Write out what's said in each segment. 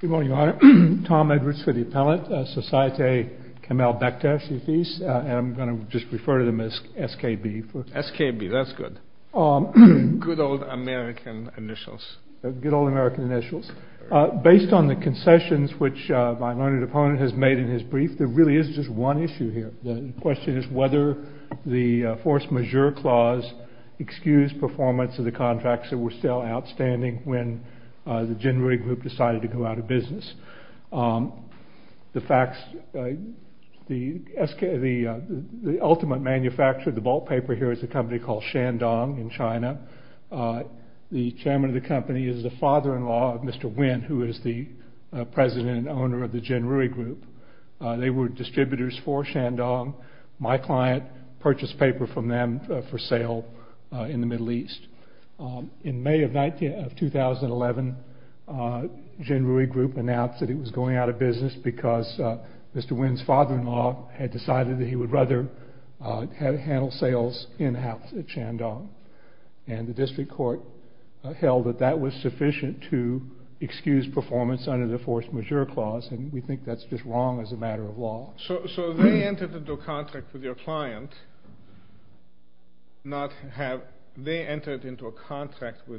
Good morning, Your Honor. Tom Edwards for the appellate. Societe Kamel Bekdache & Fils, and I'm going to just refer to them as SKB. SKB, that's good. Good old American initials. Good old American initials. Based on the concessions which my learned opponent has made in his brief, there really is just one issue here. The question is whether the force majeure clause excused performance of the contracts that were still outstanding when the Jin Rui Group decided to go out of business. The ultimate manufacturer of the ballpaper here is a company called Shandong in China. The chairman of the company is the father-in-law of Mr. Wen, who is the president and owner of the Jin Rui Group. They were distributors for Shandong. My client purchased paper from them for sale in the Middle East. In May of 2011, Jin Rui Group announced that it was going out of business because Mr. Wen's father-in-law had decided that he would rather handle sales in-house at Shandong. The district court held that that was sufficient to excuse performance under the force majeure clause, and we think that's just wrong as a matter of law. So they entered into a contract with your client, not having a contract of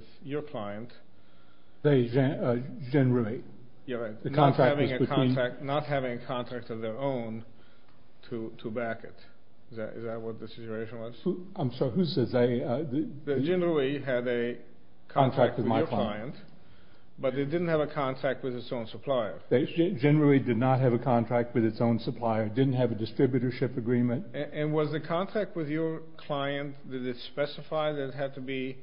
their own to back it. Is that what the situation was? Jin Rui had a contract with my client, but it didn't have a contract with its own supplier. Jin Rui did not have a contract with its own supplier, didn't have a distributorship agreement. And was the contract with your client, did it specify that it had to be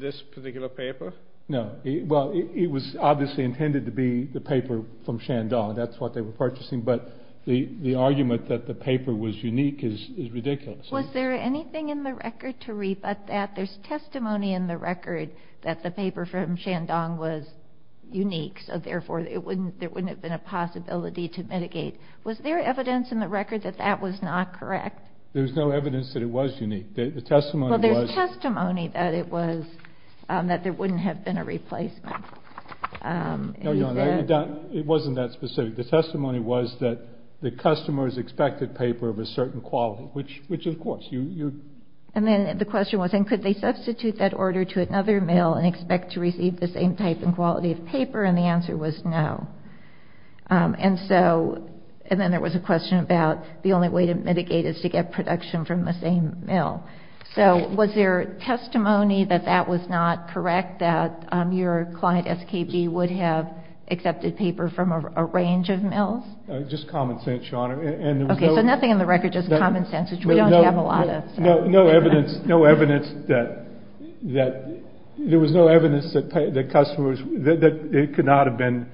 this particular paper? No. Well, it was obviously intended to be the paper from Shandong. That's what they were purchasing, but the argument that the paper was unique is ridiculous. Was there anything in the record to rebut that? There's testimony in the record that the paper from Shandong was unique, so therefore there wouldn't have been a possibility to mitigate. Was there evidence in the record that that was not correct? There was no evidence that it was unique. Well, there's testimony that it was, that there wouldn't have been a replacement. No, Your Honor, it wasn't that specific. The testimony was that the customers expected paper of a certain quality, which of course you... And then the question was, could they substitute that order to another mill and expect to receive the same type and quality of paper? And the answer was no. And so, and then there was a question about the only way to mitigate is to get production from the same mill. So was there testimony that that was not correct, that your client, SKB, would have accepted paper from a range of mills? Just common sense, Your Honor. Okay, so nothing in the record, just common sense, which we don't have a lot of. No, no evidence, no evidence that, that there was no evidence that customers, that it could not have been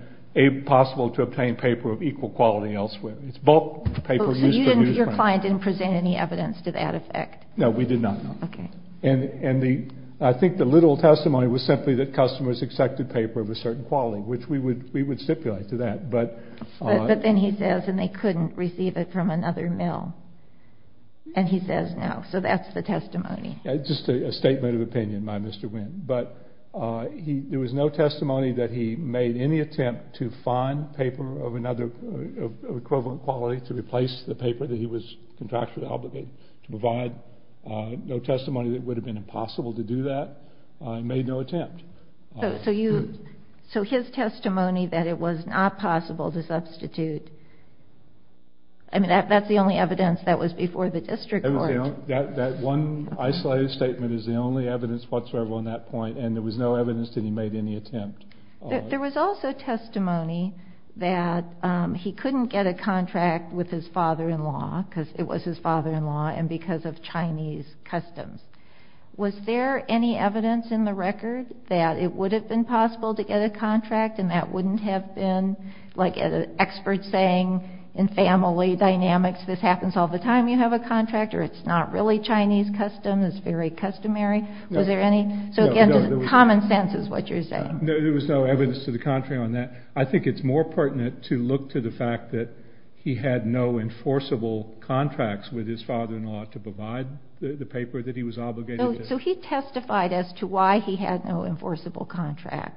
possible to obtain paper of equal quality elsewhere. It's bulk paper used for... So you didn't, your client didn't present any evidence to that effect? No, we did not. Okay. And the, I think the literal testimony was simply that customers accepted paper of a certain quality, which we would stipulate to that, but... But then he says, and they couldn't receive it from another mill. And he says no. So that's the testimony. Just a statement of opinion by Mr. Winn. But he, there was no testimony that he made any attempt to find paper of another, of equivalent quality to replace the paper that he was contractually obligated to provide. No testimony that it would have been impossible to do that. He made no attempt. So you, so his testimony that it was not possible to substitute, I mean, that's the only evidence that was before the district court. That one isolated statement is the only evidence whatsoever on that point. And there was no evidence that he made any attempt. There was also testimony that he couldn't get a contract with his father-in-law because it was his father-in-law and because of Chinese customs. Was there any evidence in the record that it would have been possible to get a contract and that wouldn't have been like an expert saying in family dynamics, this happens all the time you have a contract or it's not really Chinese custom, it's very customary. Was there any, so again, common sense is what you're saying. No, there was no evidence to the contrary on that. I think it's more pertinent to look to the fact that he had no enforceable contracts with his father-in-law to provide the paper that he was obligated to. So he testified as to why he had no enforceable contract.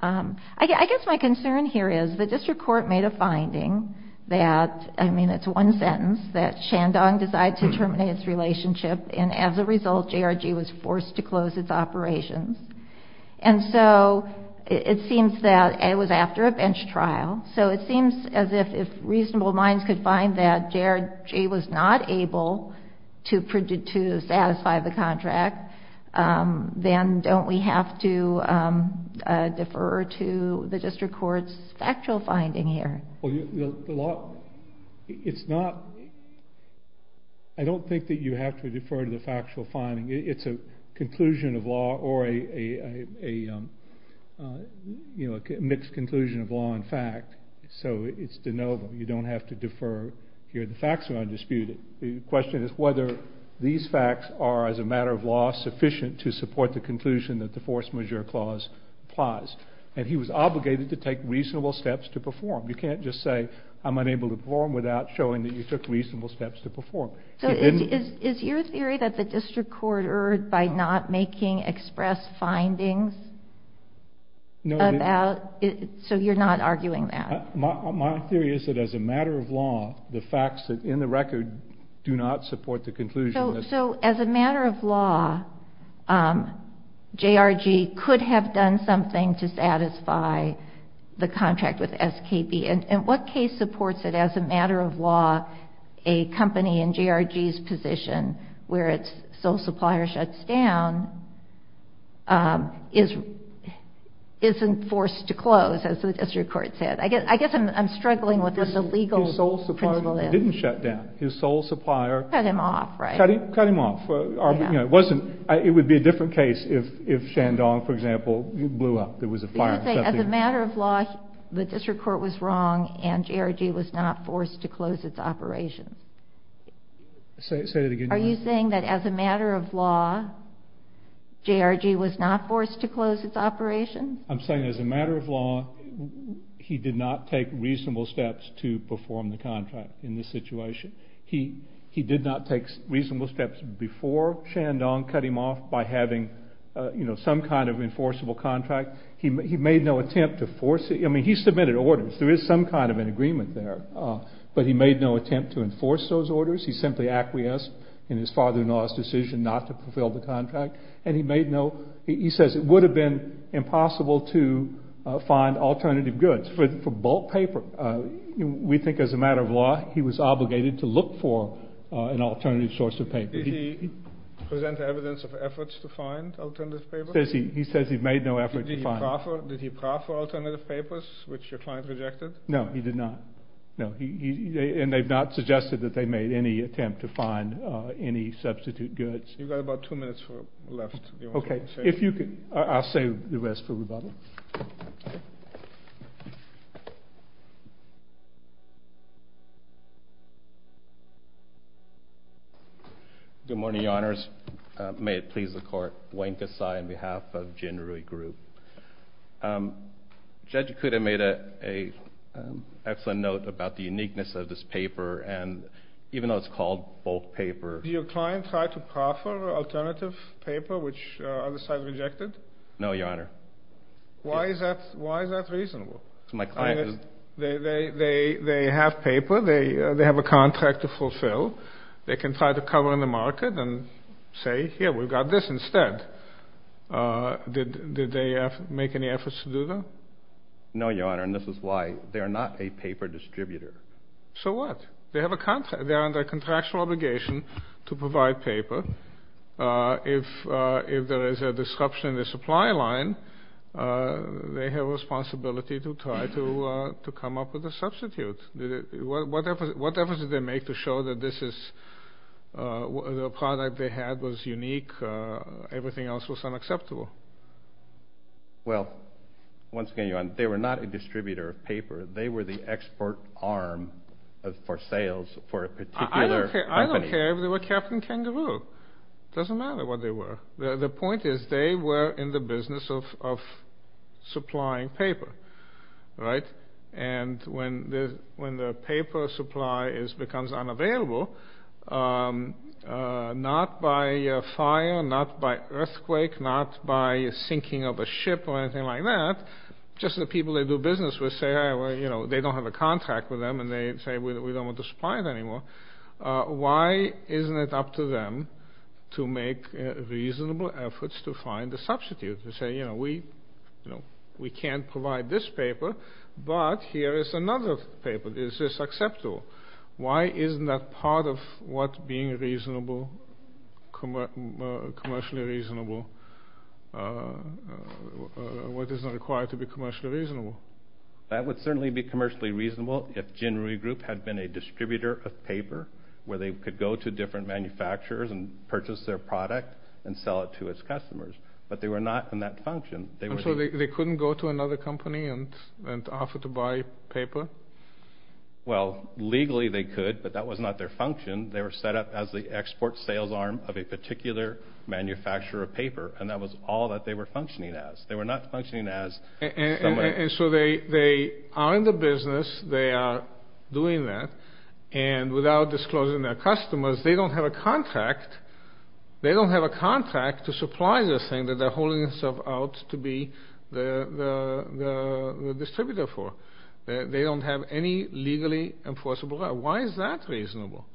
I guess my concern here is the district court made a finding that, I mean, it's one sentence, that Shandong decided to terminate its relationship and as a result, JRG was forced to close its operations. And so it seems that it was after a bench trial. So it seems as if reasonable minds could find that JRG was not able to satisfy the contract, then don't we have to defer to the district court's factual finding here? Well, the law, it's not, I don't think that you have to defer to the factual finding. It's a conclusion of law or a mixed conclusion of law and fact. So it's de novo. You don't have to defer here. The facts are undisputed. The question is whether these facts are, as a matter of law, sufficient to support the conclusion that the force majeure clause applies. And he was obligated to take reasonable steps to perform. You can't just say I'm unable to perform without showing that you took reasonable steps to perform. So is your theory that the district court erred by not making express findings about, so you're not arguing that? My theory is that as a matter of law, the facts in the record do not support the conclusion. So as a matter of law, JRG could have done something to satisfy the contract with SKB. And what case supports it as a matter of law, a company in JRG's position where its sole supplier shuts down isn't forced to close, as the district court said? I guess I'm struggling with what the legal principle is. His sole supplier didn't shut down. His sole supplier cut him off, right? Cut him off. It would be a different case if Shandong, for example, blew up. There was a fire. As a matter of law, the district court was wrong, and JRG was not forced to close its operation. Say that again? Are you saying that as a matter of law, JRG was not forced to close its operation? I'm saying as a matter of law, he did not take reasonable steps to perform the contract in this situation. He did not take reasonable steps before Shandong cut him off by having some kind of enforceable contract. He made no attempt to force it. I mean, he submitted orders. There is some kind of an agreement there. But he made no attempt to enforce those orders. He simply acquiesced in his father-in-law's decision not to fulfill the contract. And he made no—he says it would have been impossible to find alternative goods for bulk paper. We think as a matter of law, he was obligated to look for an alternative source of paper. Did he present evidence of efforts to find alternative paper? He says he made no effort to find— Did he proffer alternative papers, which your client rejected? No, he did not. No. And they've not suggested that they made any attempt to find any substitute goods. You've got about two minutes left. Okay. Good morning, Your Honors. May it please the Court. Wayne Kesai on behalf of Jin Rui Group. Judge Ikuda made an excellent note about the uniqueness of this paper. And even though it's called bulk paper— Did your client try to proffer alternative paper, which the other side rejected? No, Your Honor. Why is that reasonable? My client— I mean, they have paper. They have a contract to fulfill. They can try to cover in the market and say, here, we've got this instead. Did they make any efforts to do that? No, Your Honor, and this is why. They are not a paper distributor. So what? They have a contract. They are under contractual obligation to provide paper. If there is a disruption in the supply line, they have a responsibility to try to come up with a substitute. What efforts did they make to show that this is—the product they had was unique? Everything else was unacceptable? Well, once again, Your Honor, they were not a distributor of paper. They were the export arm for sales for a particular company. I don't care if they were Captain Kangaroo. It doesn't matter what they were. The point is they were in the business of supplying paper, right? And when the paper supply becomes unavailable, not by fire, not by earthquake, not by sinking of a ship or anything like that, just the people they do business with say, you know, they don't have a contract with them, and they say we don't want to supply it anymore. Why isn't it up to them to make reasonable efforts to find a substitute? To say, you know, we can't provide this paper, but here is another paper. Is this acceptable? Why isn't that part of what being commercially reasonable, what is required to be commercially reasonable? That would certainly be commercially reasonable if Ginry Group had been a distributor of paper where they could go to different manufacturers and purchase their product and sell it to its customers. But they were not in that function. And so they couldn't go to another company and offer to buy paper? Well, legally they could, but that was not their function. They were set up as the export sales arm of a particular manufacturer of paper, and that was all that they were functioning as. They were not functioning as somebody... And so they are in the business, they are doing that, and without disclosing their customers, they don't have a contract. They don't have a contract to supply this thing that they're holding themselves out to be the distributor for. They don't have any legally enforceable law. Why is that reasonable?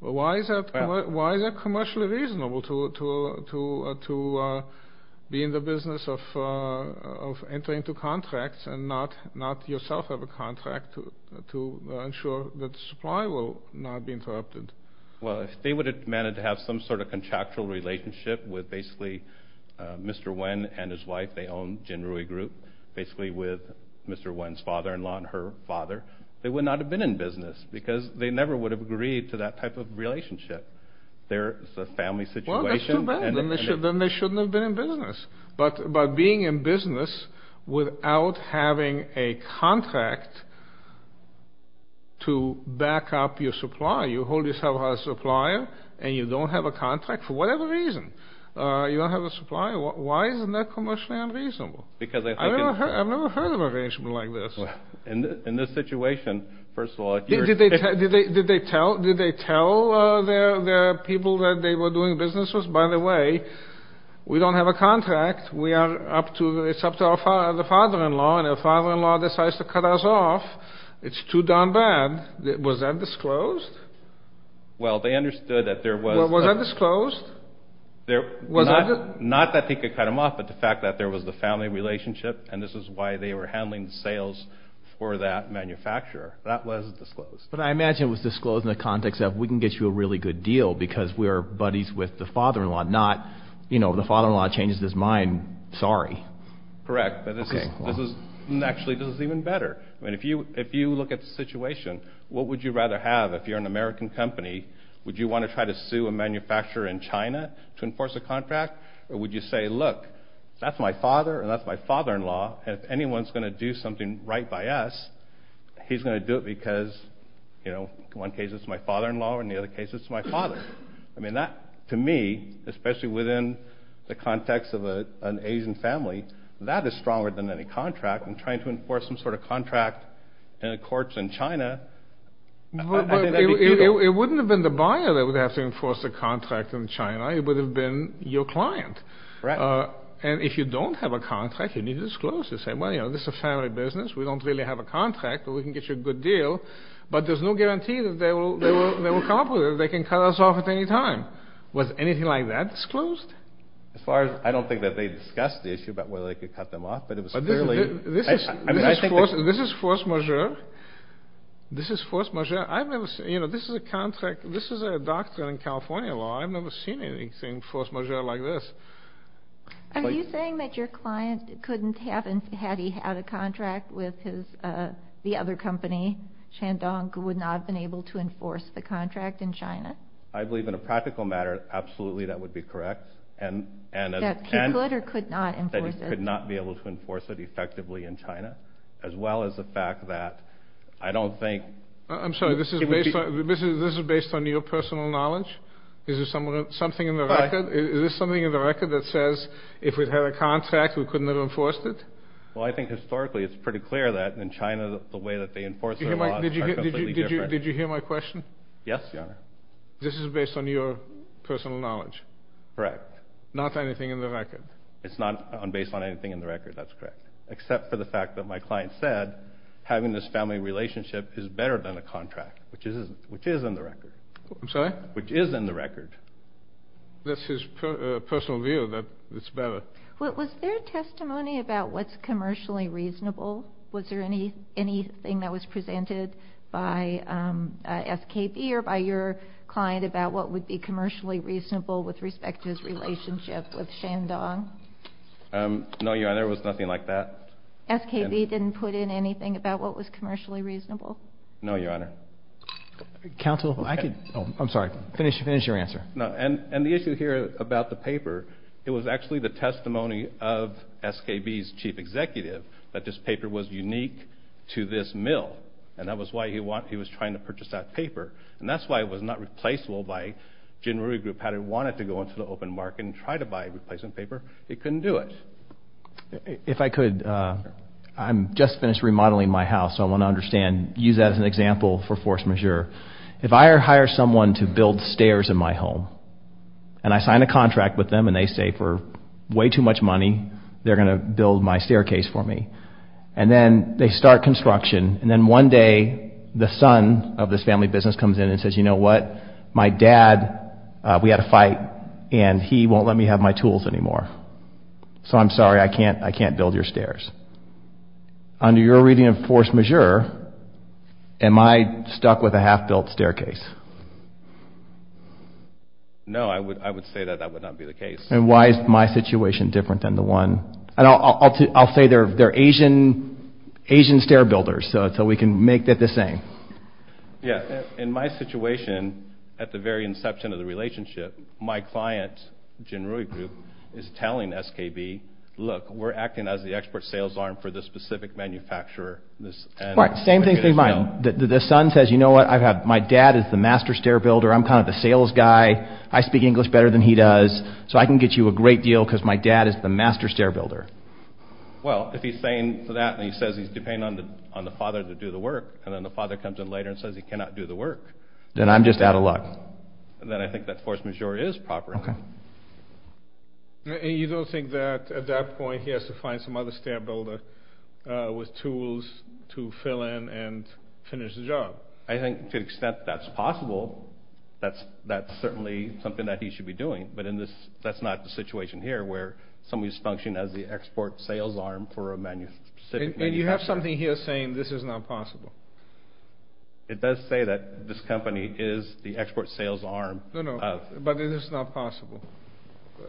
Why is that commercially reasonable to be in the business of entering into contracts and not yourself have a contract to ensure that supply will not be interrupted? Well, if they would have managed to have some sort of contractual relationship with basically Mr. Wen and his wife, they own Ginry Group, basically with Mr. Wen's father-in-law and her father, they would not have been in business because they never would have agreed to that type of relationship. It's a family situation. Well, that's too bad. Then they shouldn't have been in business. But being in business without having a contract to back up your supply, you hold yourself out as a supplier and you don't have a contract for whatever reason, you don't have a supplier, why isn't that commercially unreasonable? I've never heard of a arrangement like this. In this situation, first of all... Did they tell their people that they were doing businesses, by the way, we don't have a contract, it's up to the father-in-law, and if the father-in-law decides to cut us off, it's too darn bad. Was that disclosed? Well, they understood that there was... Was that disclosed? Not that they could cut them off, but the fact that there was a family relationship and this is why they were handling sales for that manufacturer. That was disclosed. But I imagine it was disclosed in the context of we can get you a really good deal because we're buddies with the father-in-law, not the father-in-law changes his mind, sorry. Correct, but this is actually even better. If you look at the situation, what would you rather have if you're an American company? Would you want to try to sue a manufacturer in China to enforce a contract? Or would you say, look, that's my father and that's my father-in-law, and if anyone's going to do something right by us, he's going to do it because, you know, in one case it's my father-in-law and in the other case it's my father. I mean that, to me, especially within the context of an Asian family, that is stronger than any contract. And trying to enforce some sort of contract in a court in China, I think that'd be evil. It wouldn't have been the buyer that would have to enforce a contract in China. It would have been your client. Correct. And if you don't have a contract, you need to disclose it. You say, well, you know, this is a family business. We don't really have a contract, but we can get you a good deal. But there's no guarantee that they will come up with it. They can cut us off at any time. Was anything like that disclosed? As far as I don't think that they discussed the issue about whether they could cut them off, but it was fairly— This is force majeure. This is force majeure. I've never seen—you know, this is a contract. This is a doctrine in California law. I've never seen anything force majeure like this. Are you saying that your client couldn't have, had he had a contract with the other company, Shandong, would not have been able to enforce the contract in China? I believe in a practical matter, absolutely that would be correct. That he could or could not enforce it. That he could not be able to enforce it effectively in China, as well as the fact that I don't think— I'm sorry. This is based on your personal knowledge? Is there something in the record? Is there something in the record that says if it had a contract, we couldn't have enforced it? Well, I think historically it's pretty clear that in China, the way that they enforce their laws are completely different. Did you hear my question? Yes, Your Honor. This is based on your personal knowledge? Correct. Not anything in the record? It's not based on anything in the record. That's correct. Except for the fact that my client said having this family relationship is better than a contract, which is in the record. I'm sorry? Which is in the record. That's his personal view, that it's better. Was there testimony about what's commercially reasonable? Was there anything that was presented by SKB or by your client about what would be commercially reasonable with respect to his relationship with Shandong? No, Your Honor. There was nothing like that. SKB didn't put in anything about what was commercially reasonable? No, Your Honor. Counsel, I'm sorry. Finish your answer. And the issue here about the paper, it was actually the testimony of SKB's chief executive that this paper was unique to this mill, and that was why he was trying to purchase that paper. And that's why it was not replaceable by Jin Rui Group. Had it wanted to go into the open market and try to buy a replacement paper, it couldn't do it. If I could, I'm just finished remodeling my house, so I want to understand, use that as an example for force majeure. If I hire someone to build stairs in my home, and I sign a contract with them, and they say for way too much money they're going to build my staircase for me, and then they start construction, and then one day the son of this family business comes in and says, you know what, my dad, we had a fight, and he won't let me have my tools anymore. So I'm sorry, I can't build your stairs. Under your reading of force majeure, am I stuck with a half-built staircase? No, I would say that that would not be the case. And why is my situation different than the one? I'll say they're Asian stair builders, so we can make that the same. Yeah, in my situation, at the very inception of the relationship, my client, Jin Rui Group, is telling SKB, look, we're acting as the export sales arm for this specific manufacturer. All right, same thing for mine. The son says, you know what, my dad is the master stair builder, I'm kind of the sales guy, I speak English better than he does, so I can get you a great deal because my dad is the master stair builder. Well, if he's saying that, and he says he's depending on the father to do the work, and then the father comes in later and says he cannot do the work. Then I'm just out of luck. Then I think that force majeure is proper. Okay. And you don't think that at that point he has to find some other stair builder with tools to fill in and finish the job? I think to the extent that's possible, that's certainly something that he should be doing. But that's not the situation here, where somebody's functioning as the export sales arm for a specific manufacturer. And you have something here saying this is not possible. It does say that this company is the export sales arm. No, no, but it is not possible.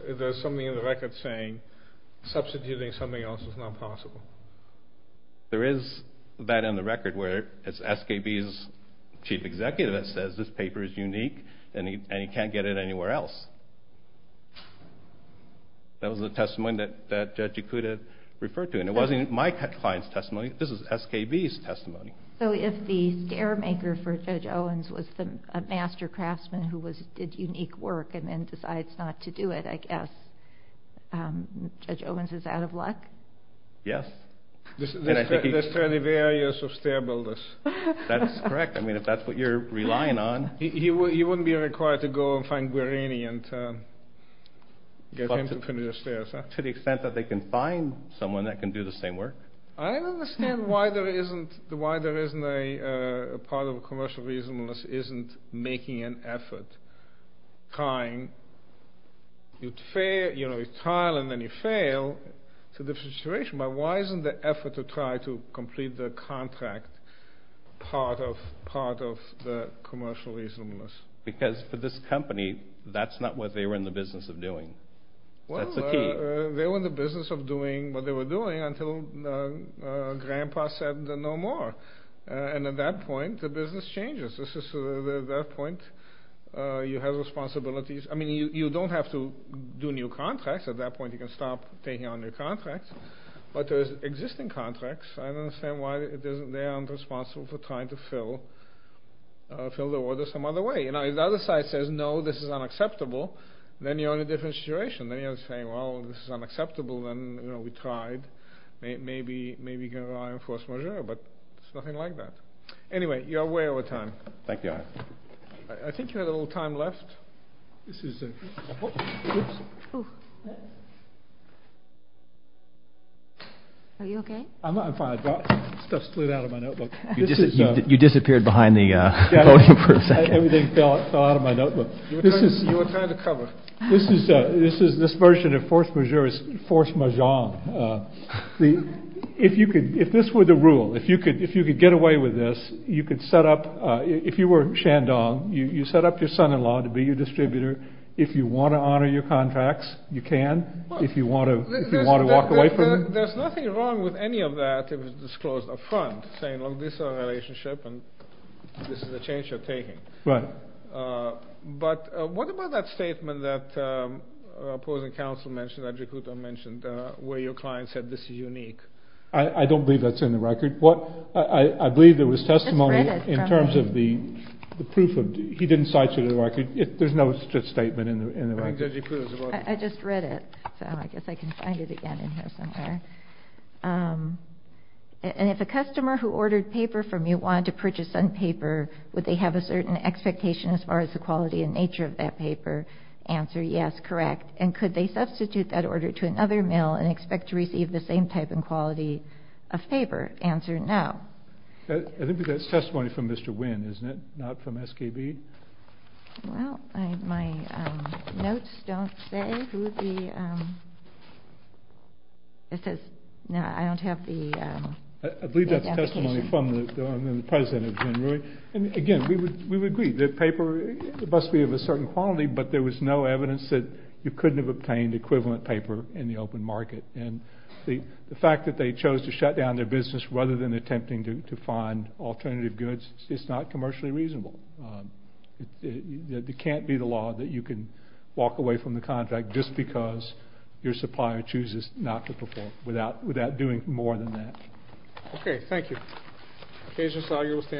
There's something in the record saying substituting something else is not possible. There is that in the record where it's SKB's chief executive that says this paper is unique, and he can't get it anywhere else. That was the testimony that Judge Ikuda referred to, and it wasn't my client's testimony. This is SKB's testimony. So if the stair maker for Judge Owens was a master craftsman who did unique work and then decides not to do it, I guess Judge Owens is out of luck? Yes. There's plenty of areas of stair builders. That's correct. I mean, if that's what you're relying on. He wouldn't be required to go and find Guarini and get him to finish the stairs. To the extent that they can find someone that can do the same work? I don't understand why there isn't a part of a commercial reasonableness isn't making an effort, trying, you know, you try and then you fail. It's a different situation. But why isn't the effort to try to complete the contract part of the commercial reasonableness? Because for this company, that's not what they were in the business of doing. That's the key. They were in the business of doing what they were doing until Grandpa said no more. And at that point, the business changes. At that point, you have responsibilities. I mean, you don't have to do new contracts. At that point, you can stop taking on new contracts. But there's existing contracts. I don't understand why they aren't responsible for trying to fill the order some other way. If the other side says, no, this is unacceptable, then you're in a different situation. Then you're saying, well, this is unacceptable. Then, you know, we tried. Maybe you can rely on force majeure. But it's nothing like that. Anyway, you're way over time. Thank you. I think you had a little time left. This is a—oops. Are you okay? I'm fine. Stuff slid out of my notebook. You disappeared behind the podium for a second. Everything fell out of my notebook. You were trying to cover. This version of force majeure is force majeure. If this were the rule, if you could get away with this, you could set up—if you were Shandong, you set up your son-in-law to be your distributor. If you want to honor your contracts, you can. If you want to walk away from— There's nothing wrong with any of that if it's disclosed up front, saying, well, this is our relationship, and this is the change you're taking. Right. But what about that statement that opposing counsel mentioned, that Jakuto mentioned, where your client said this is unique? I don't believe that's in the record. I believe there was testimony in terms of the proof of—he didn't cite you in the record. There's no such statement in the record. I just read it, so I guess I can find it again in here somewhere. And if a customer who ordered paper from you wanted to purchase some paper, would they have a certain expectation as far as the quality and nature of that paper? Answer, yes, correct. And could they substitute that order to another mail and expect to receive the same type and quality of paper? Answer, no. I think that's testimony from Mr. Wynn, isn't it, not from SKB? Well, my notes don't say who the— It says—no, I don't have the— I believe that's testimony from the president of Genrui. And, again, we would agree that paper must be of a certain quality, but there was no evidence that you couldn't have obtained equivalent paper in the open market. And the fact that they chose to shut down their business rather than attempting to find alternative goods, it's not commercially reasonable. It can't be the law that you can walk away from the contract just because your supplier chooses not to perform, without doing more than that. Okay, thank you.